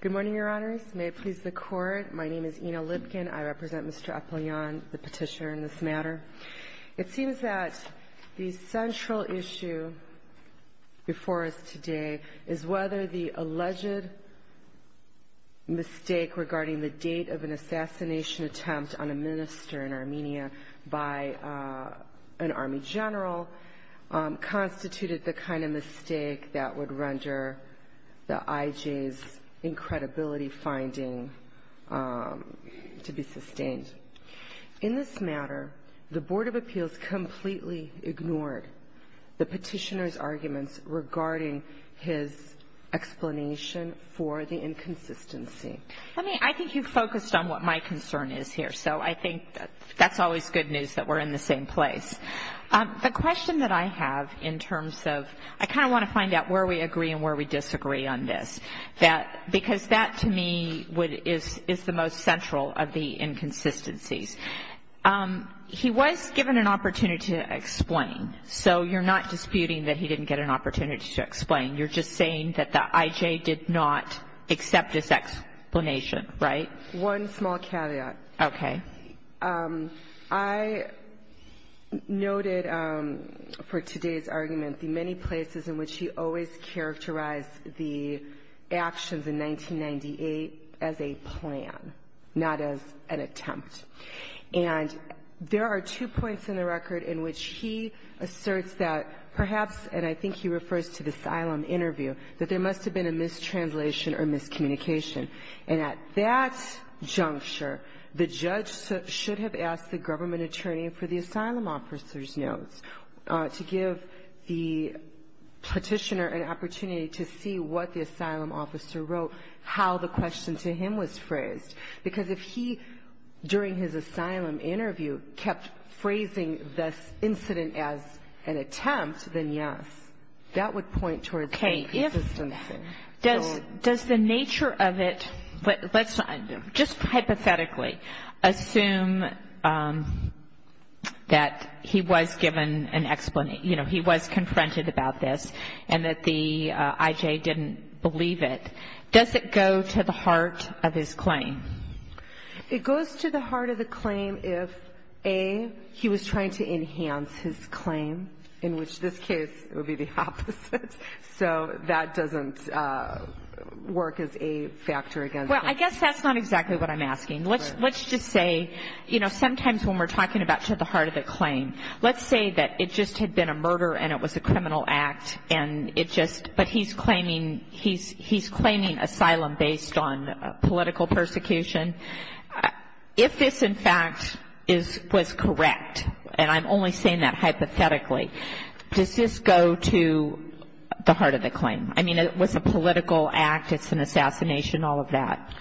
Good morning, Your Honors. May it please the Court, my name is Ina Lipkin. I represent Mr. Apelyan, the petitioner in this matter. It seems that the central issue before us today is whether the alleged mistake regarding the date of an assassination attempt on a minister in Armenia by an army general constituted the kind of mistake that would render the IJ's incredibility finding to be sustained. In this matter, the Board of Appeals completely ignored the petitioner's arguments regarding his explanation for the inconsistency. I mean, I think you focused on what my concern is here, so I think that's always good news that we're in the same place. The question that I have in terms of I kind of want to find out where we agree and where we disagree on this, because that to me is the most central of the inconsistencies. He was given an opportunity to explain, so you're not disputing that he didn't get an opportunity to explain. You're just saying that the IJ did not accept his explanation, right? One small caveat. Okay. I noted for today's argument the many places in which he always characterized the actions in 1998 as a plan, not as an attempt. And there are two points in the record in which he asserts that perhaps, and I think he refers to the asylum interview, that there must have been a mistranslation or miscommunication. And at that juncture, the judge should have asked the government attorney for the asylum officer's notes to give the petitioner an opportunity to see what the asylum officer wrote, how the question to him was phrased. Because if he, during his asylum interview, kept phrasing this incident as an attempt, then yes, that would point towards inconsistency. Okay. Does the nature of it, just hypothetically, assume that he was given an explanation, you know, he was confronted about this and that the IJ didn't believe it. Does it go to the heart of his claim? It goes to the heart of the claim if, A, he was trying to enhance his claim, in which this case would be the opposite. So that doesn't work as a factor against him. Well, I guess that's not exactly what I'm asking. Let's just say, you know, sometimes when we're talking about to the heart of the claim, let's say that it just had been a murder and it was a criminal act and it just – but he's claiming asylum based on political persecution. If this, in fact, was correct, and I'm only saying that hypothetically, does this go to the heart of the claim? I mean, was it a political act, it's an assassination, all of that?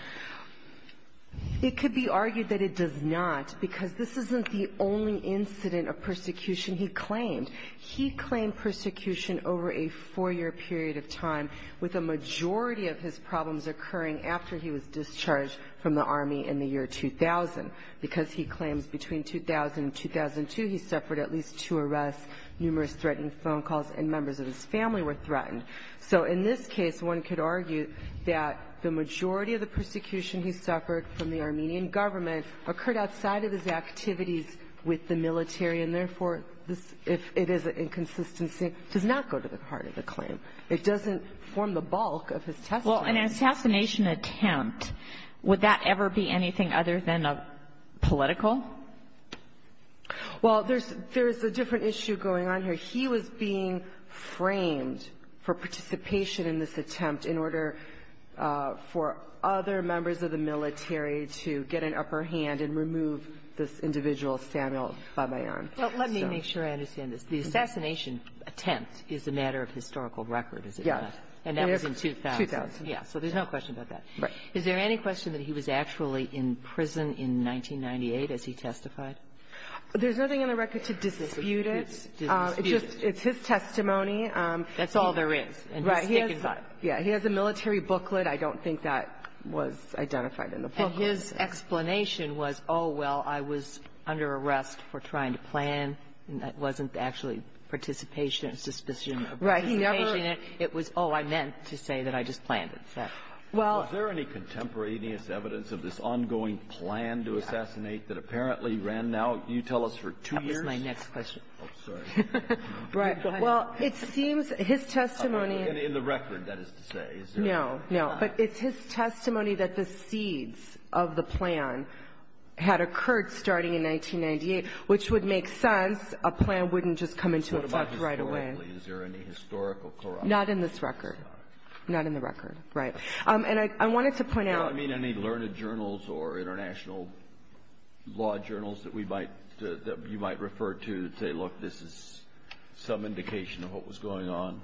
It could be argued that it does not, because this isn't the only incident of persecution he claimed. He claimed persecution over a four-year period of time, with a majority of his problems occurring after he was discharged from the Army in the year 2000, because he claims between 2000 and 2002 he suffered at least two arrests, numerous threatening phone calls, and members of his family were threatened. So in this case, one could argue that the majority of the persecution he suffered from the Armenian government occurred outside of his activities with the military, and therefore, if it is an inconsistency, it does not go to the heart of the claim. It doesn't form the bulk of his testimony. Well, an assassination attempt, would that ever be anything other than a political? Well, there's a different issue going on here. He was being framed for participation in this attempt in order for other members of the military to get an upper hand and remove this individual Samuel Babayan. Well, let me make sure I understand this. The assassination attempt is a matter of historical record, is it not? Yes. And that was in 2000. 2000. Yes. So there's no question about that. Right. Is there any question that he was actually in prison in 1998, as he testified? There's nothing in the record to dispute it. Dispute it. It's just his testimony. That's all there is. Right. He has a military booklet. I don't think that was identified in the booklet. And his explanation was, oh, well, I was under arrest for trying to plan, and that wasn't actually participation. Right. He never ---- It was, oh, I meant to say that I just planned it. Well ---- Was there any contemporaneous evidence of this ongoing plan to assassinate that apparently ran now, you tell us, for two years? That was my next question. Oh, sorry. Right. Well, it seems his testimony ---- In the record, that is to say. No, no. But it's his testimony that the seeds of the plan had occurred starting in 1998, which would make sense. A plan wouldn't just come into effect right away. Is there any historical corruption? Not in this record. Not in the record. Right. And I wanted to point out ---- No, I mean any learned journals or international law journals that we might, that you might refer to to say, look, this is some indication of what was going on.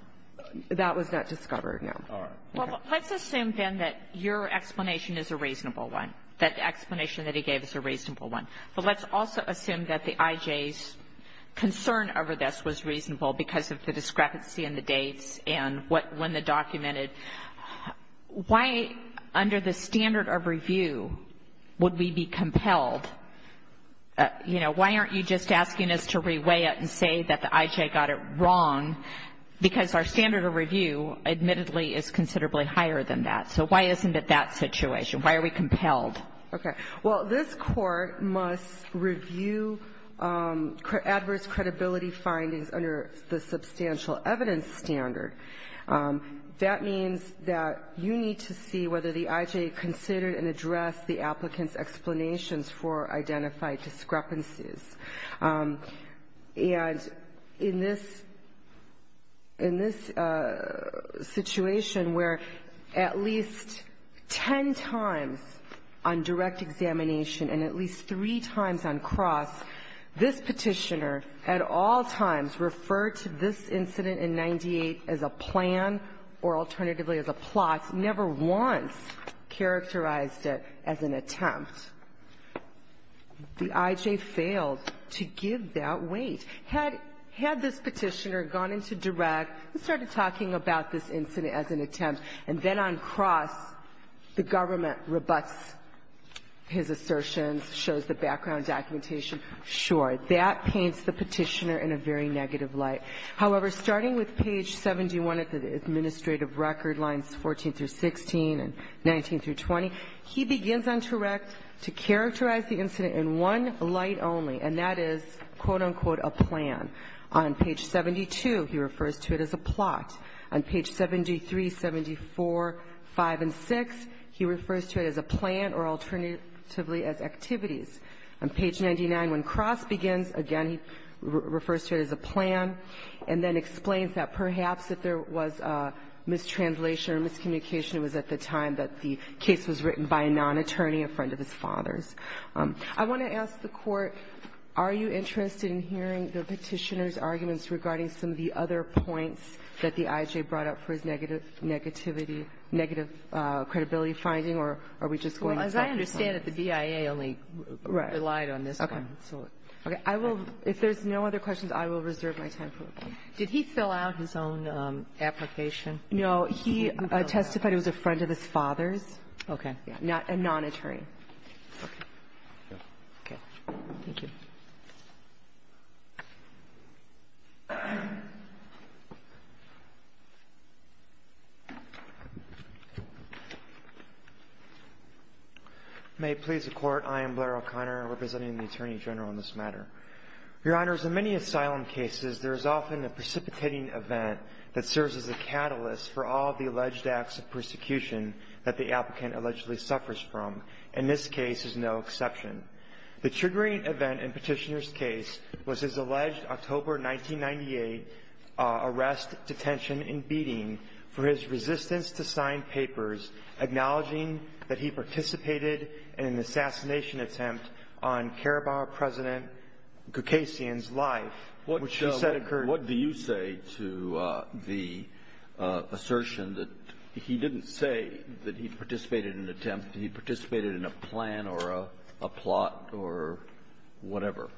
That was not discovered, no. All right. Let's assume, then, that your explanation is a reasonable one, that the explanation that he gave is a reasonable one. But let's also assume that the I.J.'s concern over this was reasonable because of the discrepancy in the dates and when the documented. Why, under the standard of review, would we be compelled, you know, why aren't you just asking us to reweigh it and say that the I.J. got it wrong? Because our standard of review, admittedly, is considerably higher than that. So why isn't it that situation? Why are we compelled? Okay. Well, this Court must review adverse credibility findings under the substantial evidence standard. That means that you need to see whether the I.J. considered and addressed the applicant's explanations for identified discrepancies. And in this situation where at least ten times on direct examination and at least three times on cross, this Petitioner at all times referred to this incident in 98 as a plan or alternatively as a plot, never once characterized it as an attempt. The I.J. failed to give that weight. Had this Petitioner gone into direct and started talking about this incident as an attempt, and then on cross the government rebuts his assertions, shows the background documentation, sure, that paints the Petitioner in a very negative light. However, starting with page 71 of the administrative record, lines 14 through 16 and 19 through 20, he begins on direct to characterize the incident in one light only, and that is, quote, unquote, a plan. On page 72, he refers to it as a plot. On page 73, 74, 5, and 6, he refers to it as a plan or alternatively as activities. On page 99, when cross begins, again, he refers to it as a plan and then explains that perhaps if there was mistranslation or miscommunication, it was at the time that the case was written by a non-attorney, a friend of his father's. I want to ask the Court, are you interested in hearing the Petitioner's arguments regarding some of the other points that the I.J. brought up for his negative negativity, negative credibility finding, or are we just going to talk about this? I understand that the BIA only relied on this one. Okay. I will, if there's no other questions, I will reserve my time for them. Did he fill out his own application? No. He testified it was a friend of his father's. Okay. A non-attorney. Okay. Thank you. May it please the Court, I am Blair O'Connor, representing the Attorney General on this matter. Your Honors, in many asylum cases, there is often a precipitating event that serves as a catalyst for all of the alleged acts of persecution that the applicant allegedly suffers from, and this case is no exception. The Petitioner's case was his alleged October 1998 arrest, detention, and beating for his resistance to sign papers acknowledging that he participated in an assassination attempt on Carabao President Gukasian's life, which he said occurred. What do you say to the assertion that he didn't say that he participated in an attempt, he participated in a plan or a plot or whatever?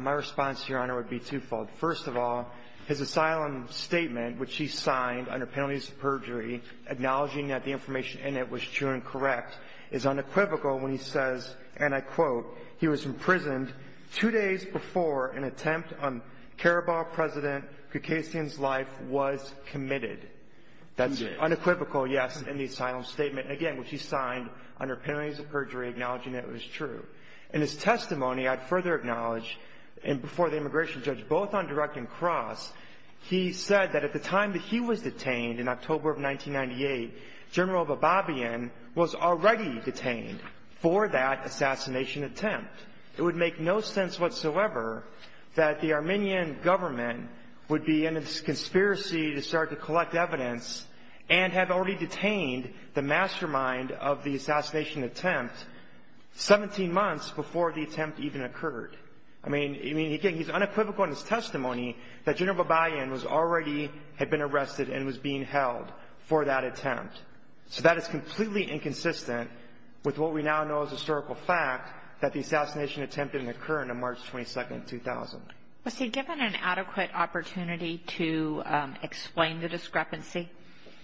My response, Your Honor, would be twofold. First of all, his asylum statement, which he signed under penalties of perjury, acknowledging that the information in it was true and correct, is unequivocal when he says, and I quote, he was imprisoned two days before an attempt on Carabao President Gukasian's life was committed. That's unequivocal, yes, in the asylum statement. And again, which he signed under penalties of perjury, acknowledging that it was true. In his testimony, I'd further acknowledge, and before the immigration judge, both on direct and cross, he said that at the time that he was detained in October of 1998, General Bababian was already detained for that assassination attempt. It would make no sense whatsoever that the Armenian government would be in a conspiracy to start to collect evidence and have already detained the mastermind of the assassination attempt 17 months before the attempt even occurred. I mean, he's unequivocal in his testimony that General Bababian was already had been arrested and was being held for that attempt. So that is completely inconsistent with what we now know as historical fact, that the assassination attempt didn't occur until March 22, 2000. Was he given an adequate opportunity to explain the discrepancy?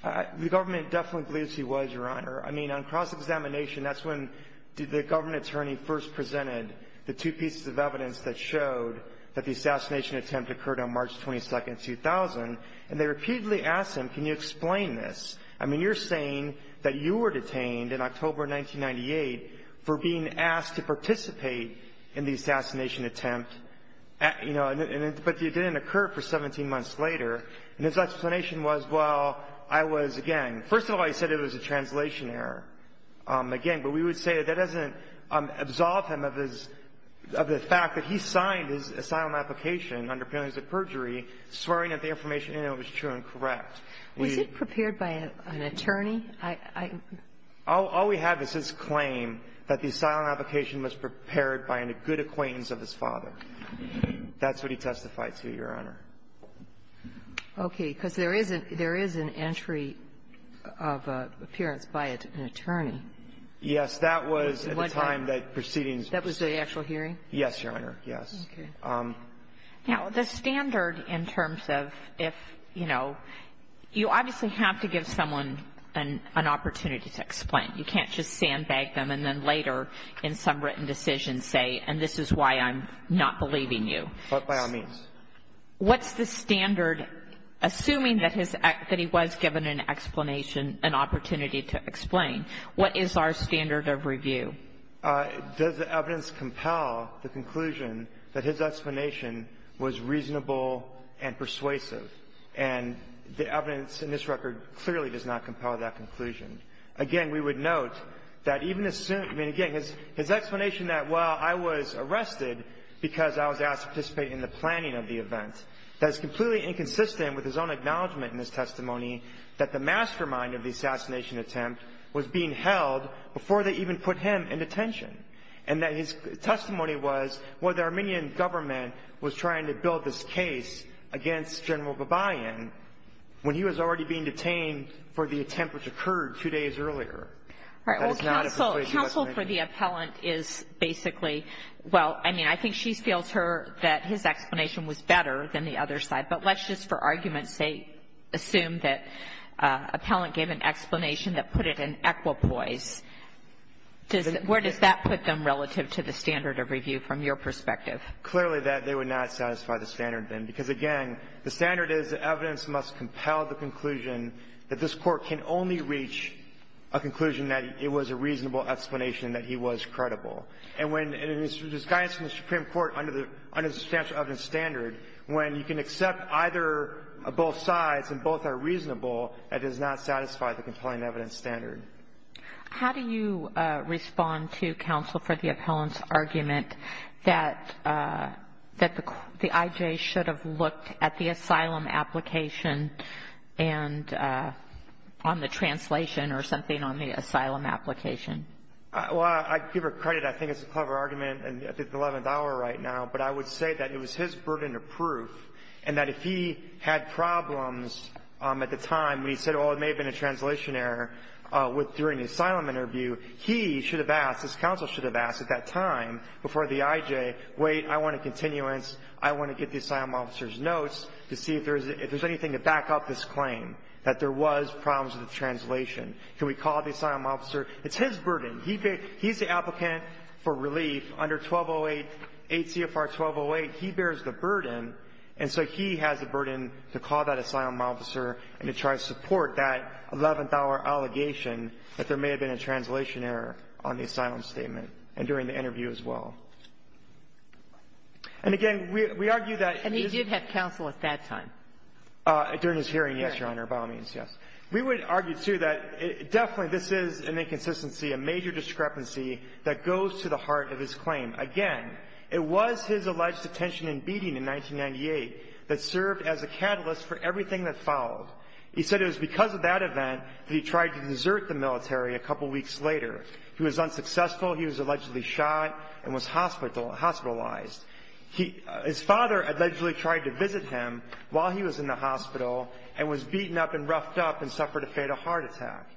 The government definitely believes he was, Your Honor. I mean, on cross-examination, that's when the government attorney first presented the two pieces of evidence that showed that the assassination attempt occurred on March 22, 2000. And they repeatedly asked him, can you explain this? I mean, you're saying that you were detained in October 1998 for being asked to do that, you know, but it didn't occur for 17 months later. And his explanation was, well, I was, again, first of all, he said it was a translation error, again, but we would say that that doesn't absolve him of his – of the fact that he signed his asylum application under penalties of perjury swearing that the information in it was true and correct. Was it prepared by an attorney? All we have is his claim that the asylum application was prepared by a good acquaintance of his father. That's what he testified to, Your Honor. Okay. Because there is a – there is an entry of appearance by an attorney. Yes. That was at the time that proceedings – That was the actual hearing? Yes, Your Honor. Yes. Okay. Now, the standard in terms of if, you know, you obviously have to give someone an opportunity to explain. You can't just sandbag them and then later in some written decision say, and this is why I'm not believing you. But by all means. What's the standard, assuming that his – that he was given an explanation, an opportunity to explain? What is our standard of review? Does the evidence compel the conclusion that his explanation was reasonable and persuasive? And the evidence in this record clearly does not compel that conclusion. Again, we would note that even assuming – I mean, again, his explanation that, well, I was arrested because I was asked to participate in the planning of the event. That is completely inconsistent with his own acknowledgement in his testimony that the mastermind of the assassination attempt was being held before they even put him in detention. And that his testimony was, well, the Armenian government was trying to build this case against General Babayan when he was already being detained for the two days earlier. That is not a persuasive explanation. All right. Well, counsel for the appellant is basically, well, I mean, I think she feels her – that his explanation was better than the other side. But let's just for argument's sake assume that appellant gave an explanation that put it in equipoise. Where does that put them relative to the standard of review from your perspective? Clearly that they would not satisfy the standard then. Because, again, the standard is the evidence must compel the conclusion that this was a reasonable explanation that he was credible. And when it is disguised in the Supreme Court under the substantial evidence standard, when you can accept either or both sides and both are reasonable, that does not satisfy the compelling evidence standard. How do you respond to counsel for the appellant's argument that the I.J. should have looked at the asylum application and on the translation or something on the asylum application? Well, I give her credit. I think it's a clever argument at the 11th hour right now. But I would say that it was his burden of proof and that if he had problems at the time when he said, well, it may have been a translation error during the asylum interview, he should have asked, his counsel should have asked at that time before the I.J., wait, I want a continuance. I want to get the asylum officer's notes to see if there's anything to back up this claim, that there was problems with the translation. Can we call the asylum officer? It's his burden. He's the applicant for relief under 1208, 8 CFR 1208. He bears the burden. And so he has the burden to call that asylum officer and to try to support that 11th hour allegation that there may have been a translation error on the asylum statement and during the interview as well. And again, we argue that his — And he did have counsel at that time? During his hearing, yes, Your Honor, by all means, yes. We would argue, too, that definitely this is an inconsistency, a major discrepancy that goes to the heart of his claim. Again, it was his alleged detention and beating in 1998 that served as a catalyst for everything that followed. He said it was because of that event that he tried to desert the military a couple weeks later. He was unsuccessful. He was allegedly shot and was hospitalized. His father allegedly tried to visit him while he was in the hospital and was beaten up and roughed up and suffered a fatal heart attack.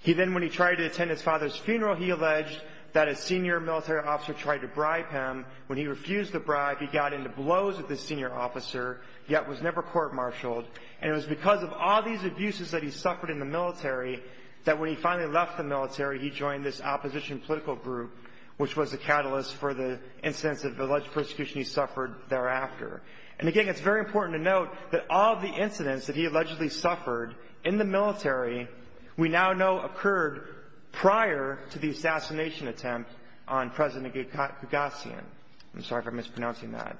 He then, when he tried to attend his father's funeral, he alleged that a senior military officer tried to bribe him. When he refused the bribe, he got into blows with the senior officer, yet was never court-martialed. And it was because of all these abuses that he suffered in the military that when he finally left the military, he joined this opposition political group, which was a catalyst for the incidents of alleged persecution he suffered thereafter. And, again, it's very important to note that all the incidents that he allegedly suffered in the military we now know occurred prior to the assassination attempt on President Gagassian. I'm sorry if I'm mispronouncing that.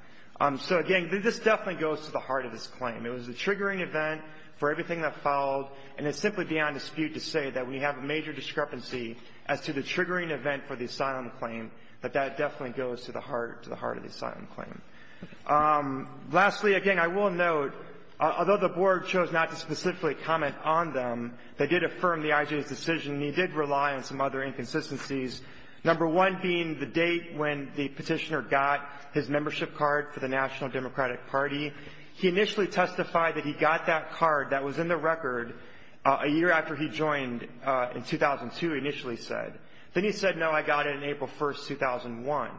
So, again, this definitely goes to the heart of his claim. It was a triggering event for everything that followed, and it's simply beyond dispute to say that we have a major discrepancy as to the triggering event for the asylum claim, that that definitely goes to the heart of the asylum claim. Lastly, again, I will note, although the Board chose not to specifically comment on them, they did affirm the IJA's decision, and he did rely on some other inconsistencies, number one being the date when the Petitioner got his membership card for the National Democratic Party. He initially testified that he got that card that was in the record a year after he joined in 2002, initially said. Then he said, no, I got it on April 1st, 2001.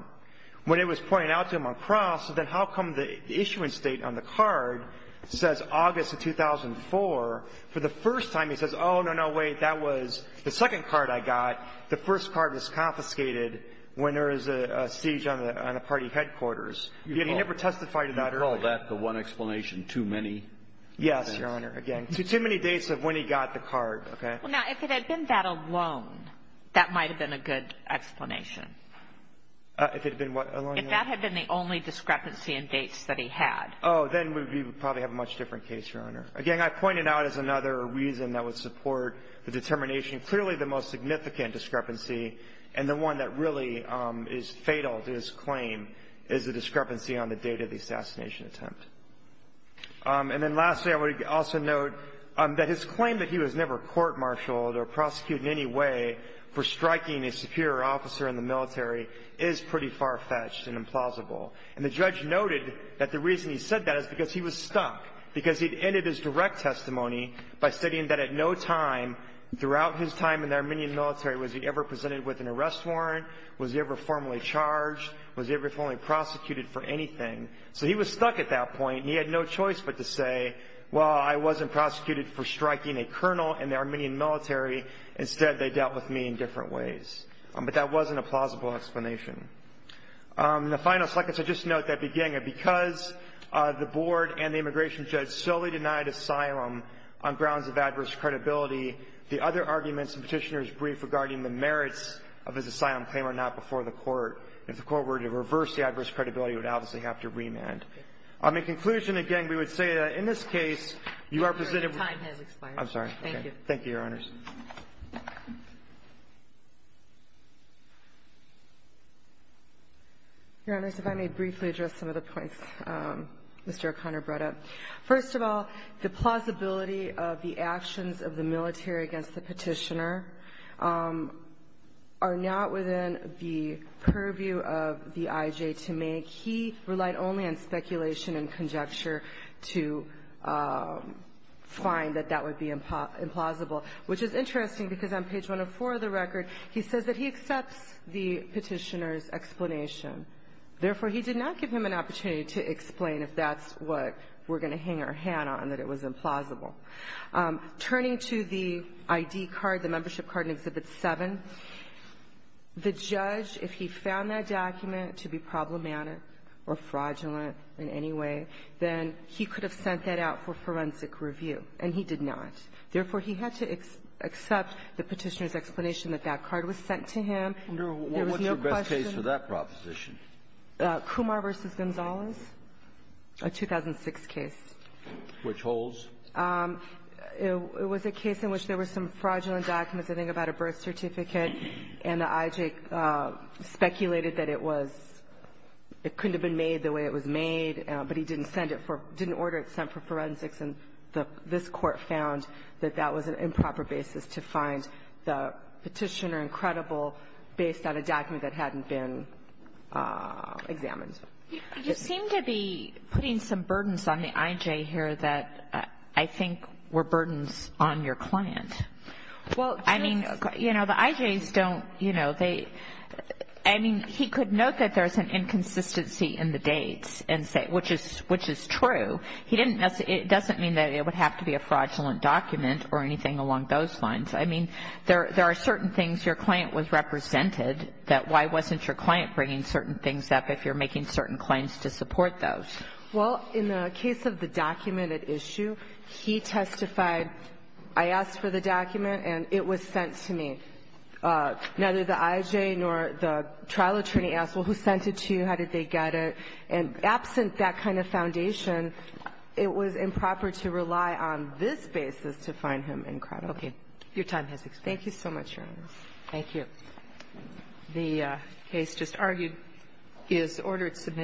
When it was pointed out to him on cross, then how come the issuance date on the card says August of 2004? For the first time, he says, oh, no, no, wait, that was the second card I got. The first card was confiscated when there was a siege on the party headquarters. He never testified to that earlier. You call that the one explanation too many? Yes, Your Honor, again. Too many dates of when he got the card, okay? Well, now, if it had been that alone, that might have been a good explanation. If it had been what alone? If that had been the only discrepancy in dates that he had. Oh, then we would probably have a much different case, Your Honor. Again, I point it out as another reason that would support the determination. Clearly the most significant discrepancy and the one that really is fatal to his claim is the discrepancy on the date of the assassination attempt. And then lastly, I would also note that his claim that he was never court-martialed or prosecuted in any way for striking a superior officer in the military is pretty far-fetched and implausible. And the judge noted that the reason he said that is because he was stuck, because he'd ended his direct testimony by stating that at no time throughout his time in the Armenian military was he ever presented with an arrest warrant, was he ever formally charged, was he ever formally prosecuted for anything. So he was stuck at that point, and he had no choice but to say, well, I wasn't prosecuted for striking a colonel in the Armenian military. Instead, they dealt with me in different ways. But that wasn't a plausible explanation. In the final seconds, I'd just note that beginning, because the board and the immigration judge solely denied asylum on grounds of adverse credibility, the other arguments in Petitioner's brief regarding the merits of his asylum claim are not before the court. And if the court were to reverse the adverse credibility, it would obviously have to remand. In conclusion, again, we would say that in this case, you are presented with the time has expired. I'm sorry. Thank you. Thank you, Your Honors. Your Honors, if I may briefly address some of the points Mr. O'Connor brought up. First of all, the plausibility of the actions of the military against the Petitioner are not within the purview of the IJ to make. He relied only on speculation and conjecture to find that that would be implausible, which is interesting, because on page 104 of the record, he says that he accepts the Petitioner's explanation. Therefore, he did not give him an opportunity to explain if that's what we're going to hang our hand on, that it was implausible. Turning to the ID card, the membership card in Exhibit 7, the judge, if he found that document to be problematic or fraudulent in any way, then he could have sent that out for forensic review, and he did not. Therefore, he had to accept the Petitioner's explanation that that card was sent to him. There was no question. What's your best case for that proposition? Kumar v. Gonzalez, a 2006 case. Which holds? It was a case in which there were some fraudulent documents, I think, about a birth certificate. And the IJ speculated that it was – it couldn't have been made the way it was made, but he didn't send it for – didn't order it sent for forensics. And this Court found that that was an improper basis to find the Petitioner incredible based on a document that hadn't been examined. You seem to be putting some burdens on the IJ here that I think were burdens on your client. Well, I mean, you know, the IJs don't, you know, they – I mean, he could note that there's an inconsistency in the dates and say – which is true. He didn't – it doesn't mean that it would have to be a fraudulent document or anything along those lines. I mean, there are certain things your client was represented, that why wasn't your client bringing certain things up if you're making certain claims to support those? Well, in the case of the documented issue, he testified – I asked for the document and it was sent to me. Neither the IJ nor the trial attorney asked, well, who sent it to you? How did they get it? And absent that kind of foundation, it was improper to rely on this basis to find him incredible. Okay. Your time has expired. Thank you so much, Your Honors. Thank you. The case just argued is ordered submitted.